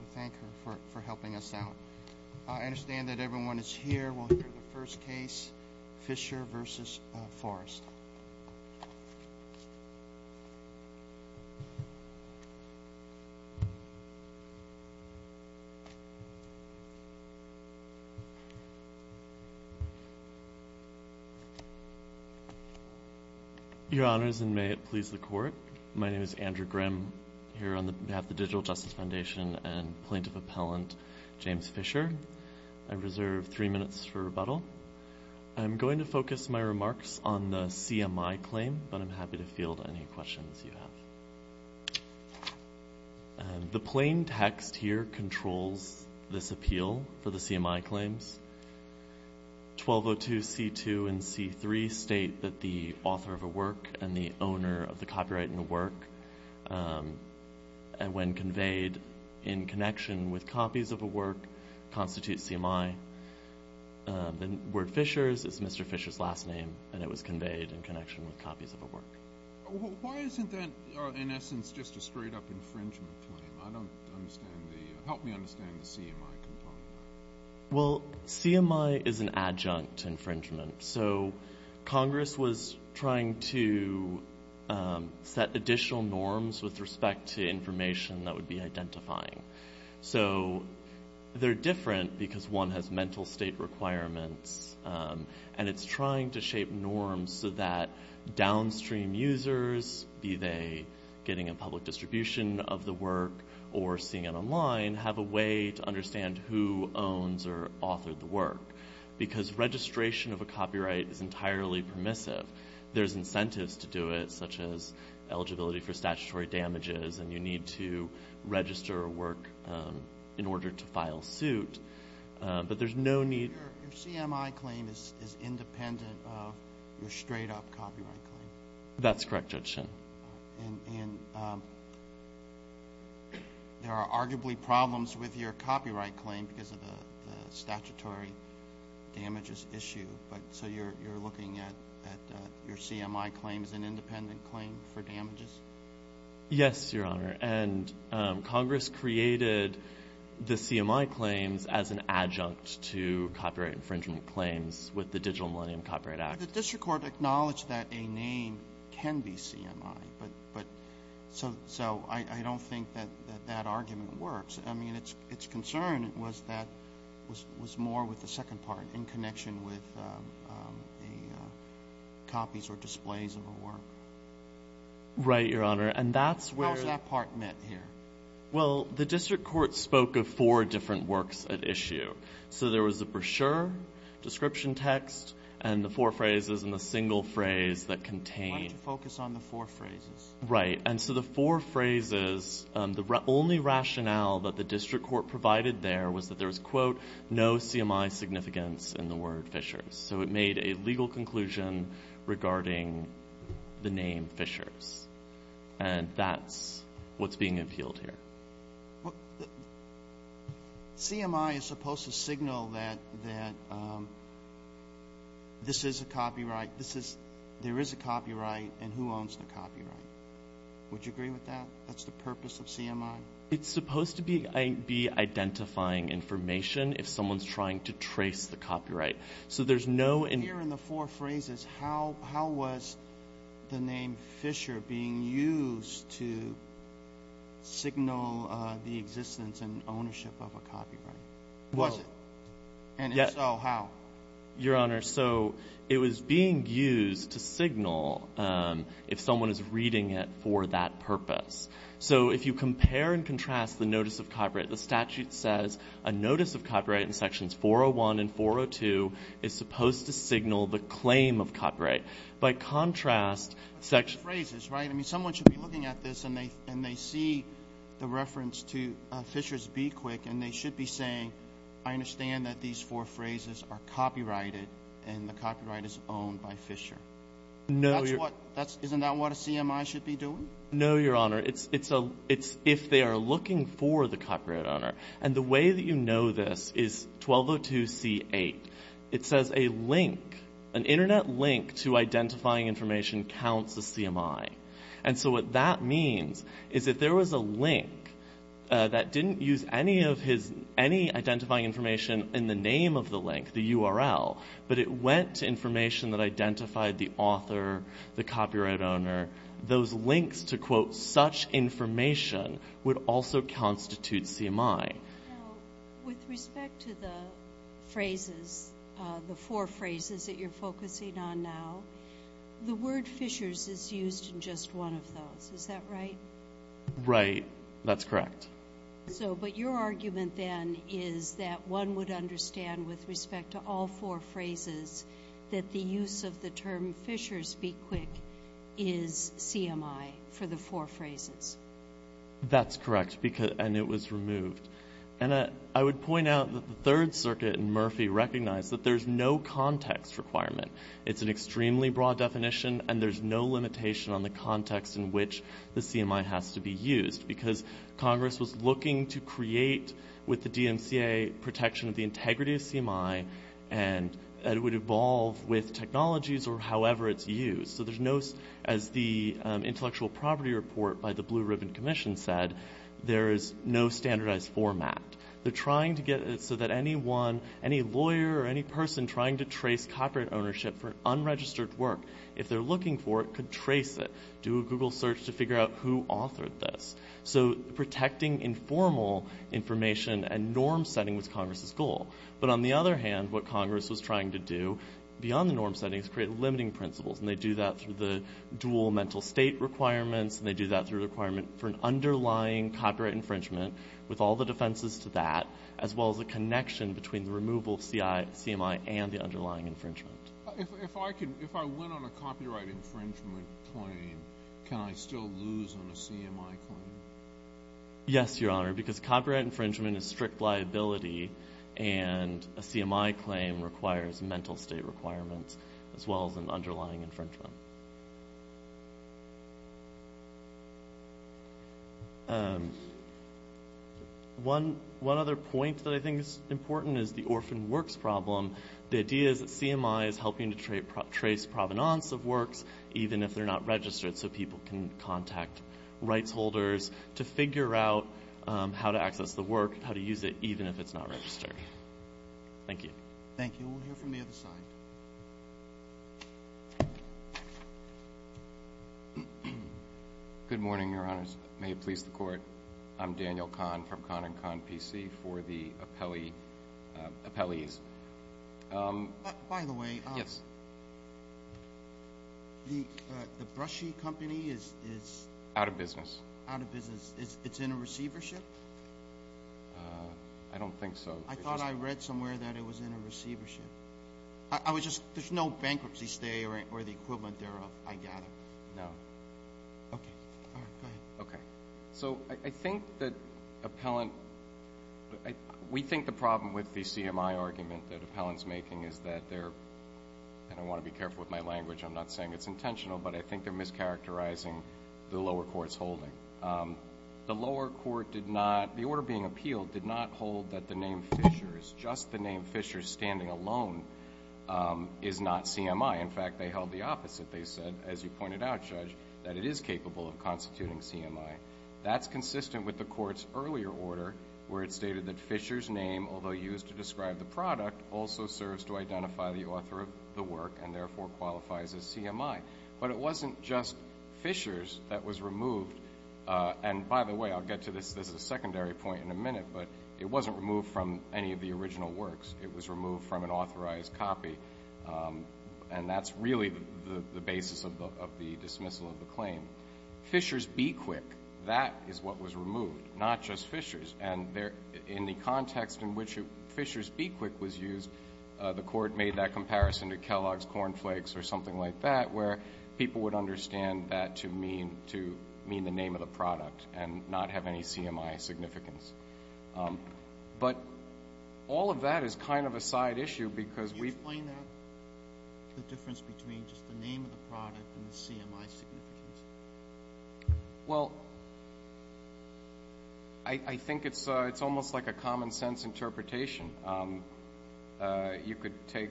We thank her for helping us out. I understand that everyone is here. We'll hear the first case, Fischer v. Forrest. Your Honors, and may it please the Court. My name is Andrew Grimm here on behalf of the Digital Justice Foundation and Plaintiff Appellant James Fischer. I reserve three minutes for rebuttal. I'm going to focus my remarks on the CMI claim, but I'm happy to field any questions you have. The plain text here controls this appeal for the CMI claims. 1202c2 and c3 state that the author of a work and the owner of the copyright in the work, when conveyed in connection with copies of a work, constitutes CMI. The word Fischer's is Mr. Fischer's last name, and it was conveyed in connection with copies of a work. Why isn't that, in essence, just a straight-up infringement claim? Help me understand the CMI component. Well, CMI is an adjunct infringement. Congress was trying to set additional norms with respect to information that would be identifying. They're different because one has mental state requirements, and it's trying to shape norms so that downstream users, be they getting a public distribution of the work or seeing it online, have a way to understand who owns or authored the work, because registration of a copyright is entirely permissive. There's incentives to do it, such as eligibility for statutory damages, and you need to register a work in order to file suit. But there's no need. Your CMI claim is independent of your straight-up copyright claim? That's correct, Judge Shin. And there are arguably problems with your copyright claim because of the statutory damages issue, so you're looking at your CMI claim as an independent claim for damages? Yes, Your Honor, and Congress created the CMI claims as an adjunct to copyright infringement claims with the Digital Millennium Copyright Act. The district court acknowledged that a name can be CMI, so I don't think that that argument works. I mean, its concern was more with the second part in connection with copies or displays of a work. Right, Your Honor. How is that part met here? Well, the district court spoke of four different works at issue. So there was the brochure, description text, and the four phrases, and the single phrase that contained. Why don't you focus on the four phrases? Right. And so the four phrases, the only rationale that the district court provided there was that there was, quote, no CMI significance in the word Fishers. So it made a legal conclusion regarding the name Fishers, and that's what's being appealed here. CMI is supposed to signal that this is a copyright, there is a copyright, and who owns the copyright. Would you agree with that? That's the purpose of CMI? It's supposed to be identifying information if someone's trying to trace the copyright. So there's no Here in the four phrases, how was the name Fisher being used to signal the existence and ownership of a copyright? Was it? And if so, how? Your Honor, so it was being used to signal if someone is reading it for that purpose. So if you compare and contrast the notice of copyright, the statute says a notice of copyright in sections 401 and 402 is supposed to signal the claim of copyright. By contrast, section Phrases, right? I mean, someone should be looking at this, and they see the reference to Fishers Be Quick, and they should be saying, I understand that these four phrases are copyrighted, and the copyright is owned by Fisher. No, Your Honor. Isn't that what a CMI should be doing? No, Your Honor. It's if they are looking for the copyright owner. And the way that you know this is 1202C8. It says a link, an Internet link to identifying information counts as CMI. And so what that means is if there was a link that didn't use any identifying information in the name of the link, the URL, but it went to information that identified the author, the copyright owner, those links to, quote, such information would also constitute CMI. Now, with respect to the phrases, the four phrases that you're focusing on now, the word Fishers is used in just one of those. Is that right? Right. That's correct. So but your argument then is that one would understand with respect to all four phrases that the use of the term Fishers Be Quick is CMI for the four phrases. That's correct, and it was removed. And I would point out that the Third Circuit in Murphy recognized that there's no context requirement. It's an extremely broad definition, and there's no limitation on the context in which the CMI has to be used because Congress was looking to create with the DMCA protection of the integrity of CMI and it would evolve with technologies or however it's used. So there's no, as the intellectual property report by the Blue Ribbon Commission said, there is no standardized format. They're trying to get it so that anyone, any lawyer or any person trying to trace copyright ownership for unregistered work, if they're looking for it, could trace it, do a Google search to figure out who authored this. So protecting informal information and norm-setting was Congress's goal. But on the other hand, what Congress was trying to do beyond the norm-setting is create limiting principles, and they do that through the dual mental state requirements, and they do that through the requirement for an underlying copyright infringement with all the defenses to that, as well as a connection between the removal of CMI and the underlying infringement. If I went on a copyright infringement claim, can I still lose on a CMI claim? Yes, Your Honor, because copyright infringement is strict liability, and a CMI claim requires mental state requirements as well as an underlying infringement. One other point that I think is important is the orphan works problem. The idea is that CMI is helping to trace provenance of works, even if they're not registered, so people can contact rights holders to figure out how to access the work, how to use it, even if it's not registered. Thank you. Thank you. We'll hear from the other side. Good morning, Your Honors. May it please the Court. I'm Daniel Kahn from Kahn & Kahn PC for the appellees. By the way, the Brushy Company is out of business. It's in a receivership? I don't think so. I thought I read somewhere that it was in a receivership. There's no bankruptcy stay or the equivalent thereof, I gather. No. Okay. All right, go ahead. Okay. So I think that appellant, we think the problem with the CMI argument that appellant's making is that they're, and I want to be careful with my language, I'm not saying it's intentional, but I think they're mischaracterizing the lower court's holding. The lower court did not, the order being appealed did not hold that the name Fisher, just the name Fisher standing alone, is not CMI. In fact, they held the opposite. They said, as you pointed out, Judge, that it is capable of constituting CMI. That's consistent with the Court's earlier order where it stated that Fisher's name, although used to describe the product, also serves to identify the author of the work and therefore qualifies as CMI. But it wasn't just Fisher's that was removed. And by the way, I'll get to this as a secondary point in a minute, but it wasn't removed from any of the original works. It was removed from an authorized copy. And that's really the basis of the dismissal of the claim. Fisher's Bequick, that is what was removed, not just Fisher's. And in the context in which Fisher's Bequick was used, the Court made that comparison to Kellogg's Corn Flakes or something like that, where people would understand that to mean the name of the product and not have any CMI significance. But all of that is kind of a side issue because we've explained the difference between just the name of the product and the CMI significance. Well, I think it's almost like a common-sense interpretation. You could take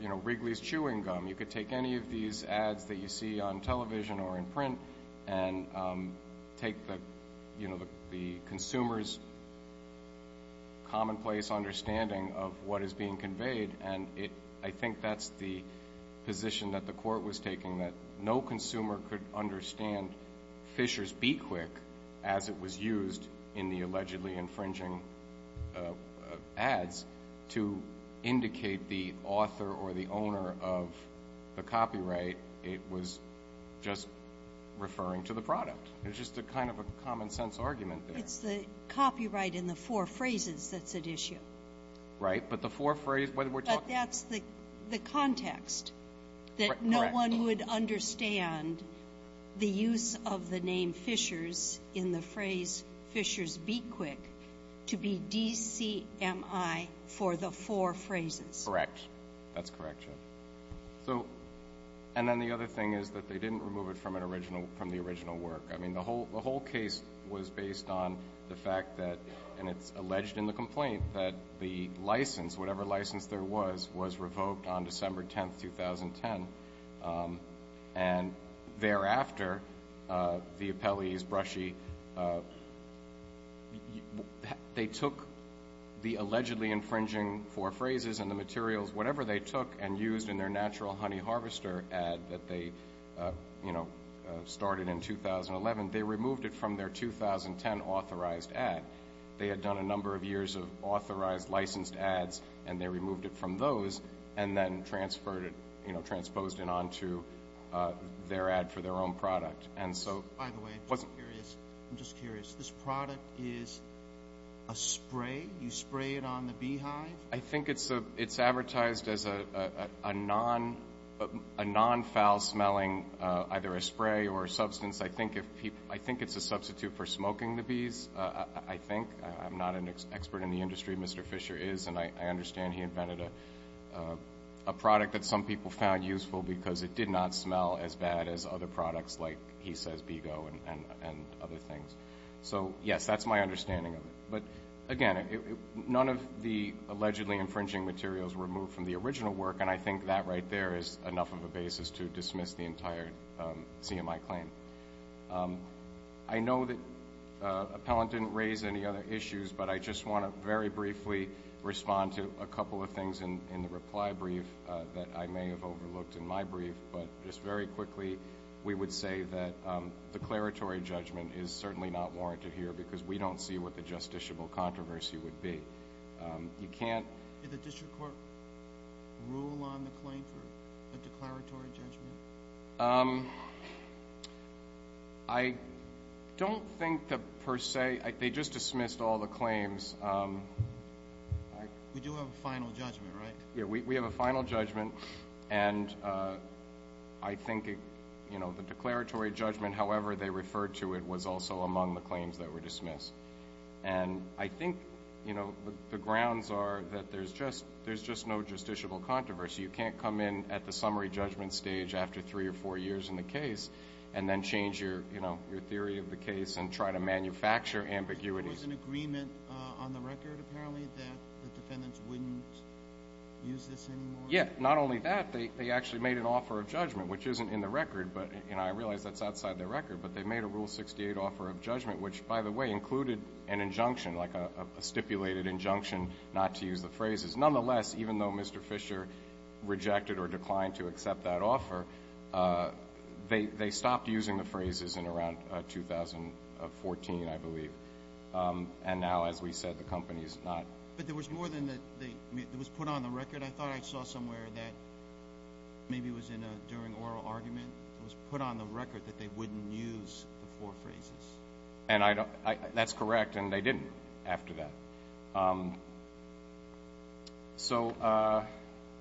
Wrigley's chewing gum. You could take any of these ads that you see on television or in print and take the consumer's commonplace understanding of what is being conveyed, and I think that's the position that the Court was taking, that no consumer could understand Fisher's Bequick as it was used in the allegedly infringing ads to indicate the author or the owner of the copyright. It was just referring to the product. It was just kind of a common-sense argument there. It's the copyright in the four phrases that's at issue. Right? But the four phrases, what we're talking about here. But that's the context, that no one would understand the use of the name Fisher's in the phrase Fisher's Bequick to be DCMI for the four phrases. Correct. That's correct, Judge. And then the other thing is that they didn't remove it from the original work. I mean, the whole case was based on the fact that, and it's alleged in the complaint, that the license, whatever license there was, was revoked on December 10, 2010. And thereafter, the appellees, Brushy, they took the allegedly infringing four phrases and the materials, whatever they took and used in their natural honey harvester ad that they started in 2011, they removed it from their 2010 authorized ad. They had done a number of years of authorized licensed ads, and they removed it from those and then transposed it onto their ad for their own product. By the way, I'm just curious. This product is a spray? You spray it on the beehive? I think it's advertised as a non-foul smelling either a spray or a substance. I think it's a substitute for smoking the bees. I think. I'm not an expert in the industry. Mr. Fisher is, and I understand he invented a product that some people found useful because it did not smell as bad as other products like he says Bego and other things. So, yes, that's my understanding of it. But, again, none of the allegedly infringing materials were removed from the original work, and I think that right there is enough of a basis to dismiss the entire CMI claim. I know that Appellant didn't raise any other issues, but I just want to very briefly respond to a couple of things in the reply brief that I may have overlooked in my brief. But just very quickly, we would say that declaratory judgment is certainly not warranted here because we don't see what the justiciable controversy would be. You can't- Did the district court rule on the claim for a declaratory judgment? I don't think that per se. They just dismissed all the claims. We do have a final judgment, right? Yeah, we have a final judgment, and I think the declaratory judgment, however they referred to it, was also among the claims that were dismissed. And I think the grounds are that there's just no justiciable controversy. You can't come in at the summary judgment stage after three or four years in the case and then change your theory of the case and try to manufacture ambiguity. There was an agreement on the record, apparently, that the defendants wouldn't use this anymore? Yeah, not only that. They actually made an offer of judgment, which isn't in the record, and I realize that's outside the record, but they made a Rule 68 offer of judgment, which, by the way, included an injunction, like a stipulated injunction not to use the phrases. Nonetheless, even though Mr. Fisher rejected or declined to accept that offer, they stopped using the phrases in around 2014, I believe. And now, as we said, the company is not. But there was more than that. It was put on the record. I thought I saw somewhere that maybe it was during an oral argument. It was put on the record that they wouldn't use the four phrases. That's correct, and they didn't after that. So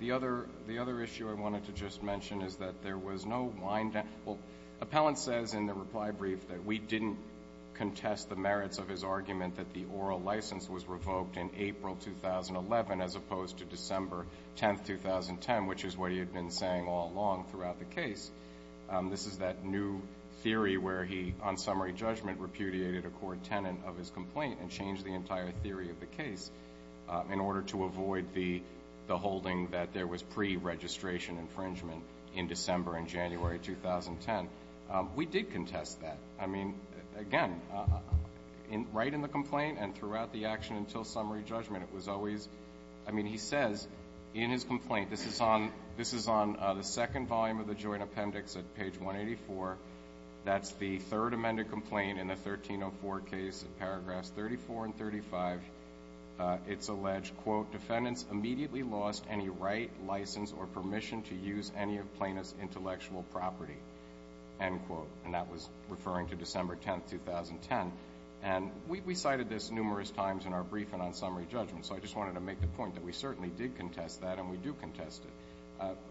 the other issue I wanted to just mention is that there was no wind down. Well, Appellant says in the reply brief that we didn't contest the merits of his argument that the oral license was revoked in April 2011 as opposed to December 10, 2010, which is what he had been saying all along throughout the case. This is that new theory where he, on summary judgment, repudiated a court tenant of his complaint and changed the entire theory of the case in order to avoid the holding that there was pre-registration infringement in December and January 2010. We did contest that. I mean, again, right in the complaint and throughout the action until summary judgment, it was always – I mean, he says in his complaint – this is on the second volume of the joint appendix at page 184. That's the third amended complaint in the 1304 case in paragraphs 34 and 35. It's alleged, quote, defendants immediately lost any right, license, or permission to use any of plaintiff's intellectual property, end quote. And that was referring to December 10, 2010. And we cited this numerous times in our briefing on summary judgment, so I just wanted to make the point that we certainly did contest that, and we do contest it.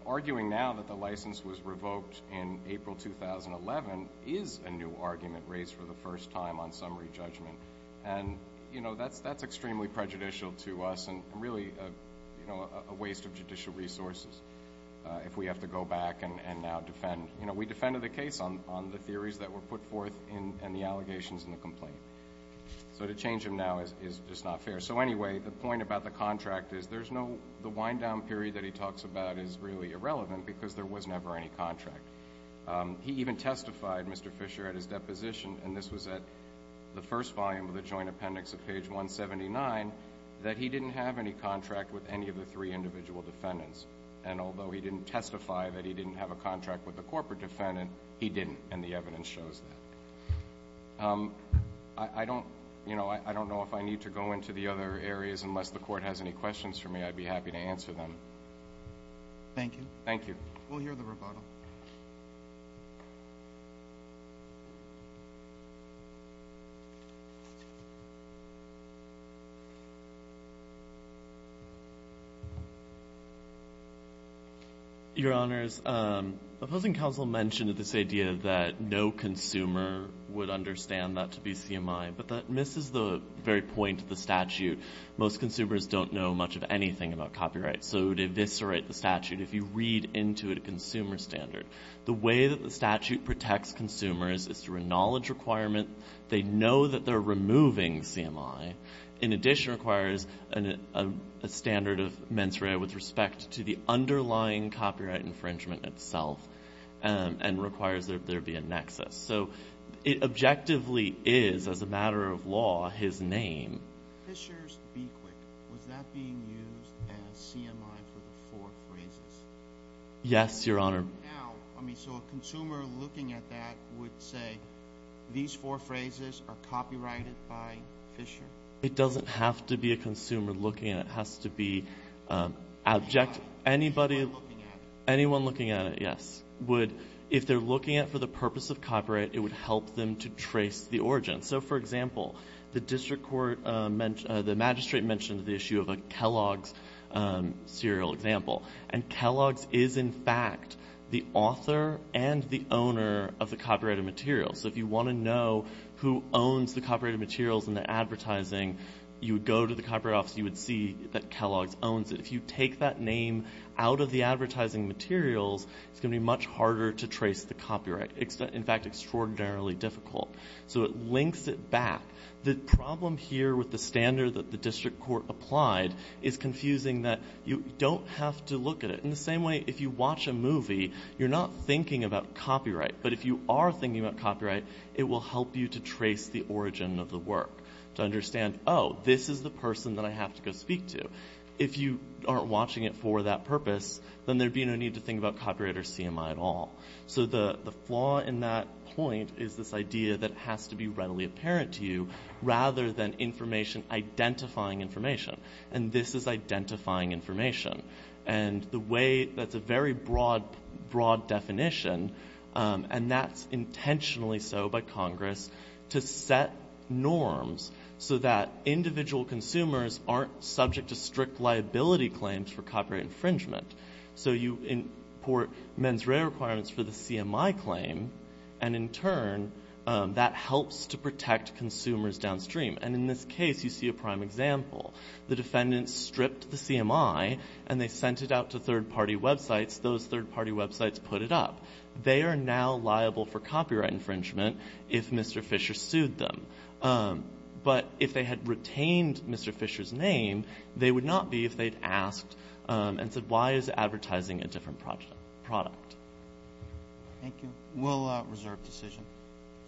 Arguing now that the license was revoked in April 2011 is a new argument raised for the first time on summary judgment. And, you know, that's extremely prejudicial to us and really a waste of judicial resources if we have to go back and now defend. You know, we defended the case on the theories that were put forth and the allegations in the complaint. So to change them now is just not fair. So anyway, the point about the contract is there's no – the theory that he talks about is really irrelevant because there was never any contract. He even testified, Mr. Fisher, at his deposition, and this was at the first volume of the joint appendix of page 179, that he didn't have any contract with any of the three individual defendants. And although he didn't testify that he didn't have a contract with the corporate defendant, he didn't, and the evidence shows that. I don't – you know, I don't know if I need to go into the other areas. Unless the Court has any questions for me, I'd be happy to answer them. Thank you. Thank you. We'll hear the rebuttal. Your Honors, the opposing counsel mentioned this idea that no consumer would understand that to be CMI, but that misses the very point of the statute. Most consumers don't know much of anything about copyright, so it would eviscerate the statute if you read into it a consumer standard. The way that the statute protects consumers is through a knowledge requirement. They know that they're removing CMI. In addition, it requires a standard of mens rea with respect to the underlying copyright infringement itself and requires there be a nexus. So it objectively is, as a matter of law, his name. Fisher's Be Quick, was that being used as CMI for the four phrases? Yes, Your Honor. Now, I mean, so a consumer looking at that would say these four phrases are copyrighted by Fisher? It doesn't have to be a consumer looking at it. It has to be object – Anyone looking at it. Anyone looking at it, yes. If they're looking at it for the purpose of copyright, it would help them to trace the origin. So, for example, the magistrate mentioned the issue of a Kellogg's serial example, and Kellogg's is, in fact, the author and the owner of the copyrighted material. So if you want to know who owns the copyrighted materials and the advertising, you would go to the Copyright Office and you would see that Kellogg's owns it. If you take that name out of the advertising materials, it's going to be much harder to trace the copyright. In fact, extraordinarily difficult. So it links it back. The problem here with the standard that the district court applied is confusing that you don't have to look at it. In the same way, if you watch a movie, you're not thinking about copyright. But if you are thinking about copyright, it will help you to trace the origin of the work, to understand, oh, this is the person that I have to go speak to. If you aren't watching it for that purpose, then there would be no need to think about copyright or CMI at all. So the flaw in that point is this idea that it has to be readily apparent to you, rather than information identifying information, and this is identifying information. And the way that's a very broad definition, and that's intentionally so by Congress, to set norms so that individual consumers aren't subject to strict liability claims for copyright infringement. So you import mens rea requirements for the CMI claim, and in turn, that helps to protect consumers downstream. And in this case, you see a prime example. The defendant stripped the CMI and they sent it out to third-party websites. Those third-party websites put it up. They are now liable for copyright infringement if Mr. Fisher sued them. But if they had retained Mr. Fisher's name, they would not be if they'd asked and said, why is advertising a different product? Thank you. We'll reserve decision.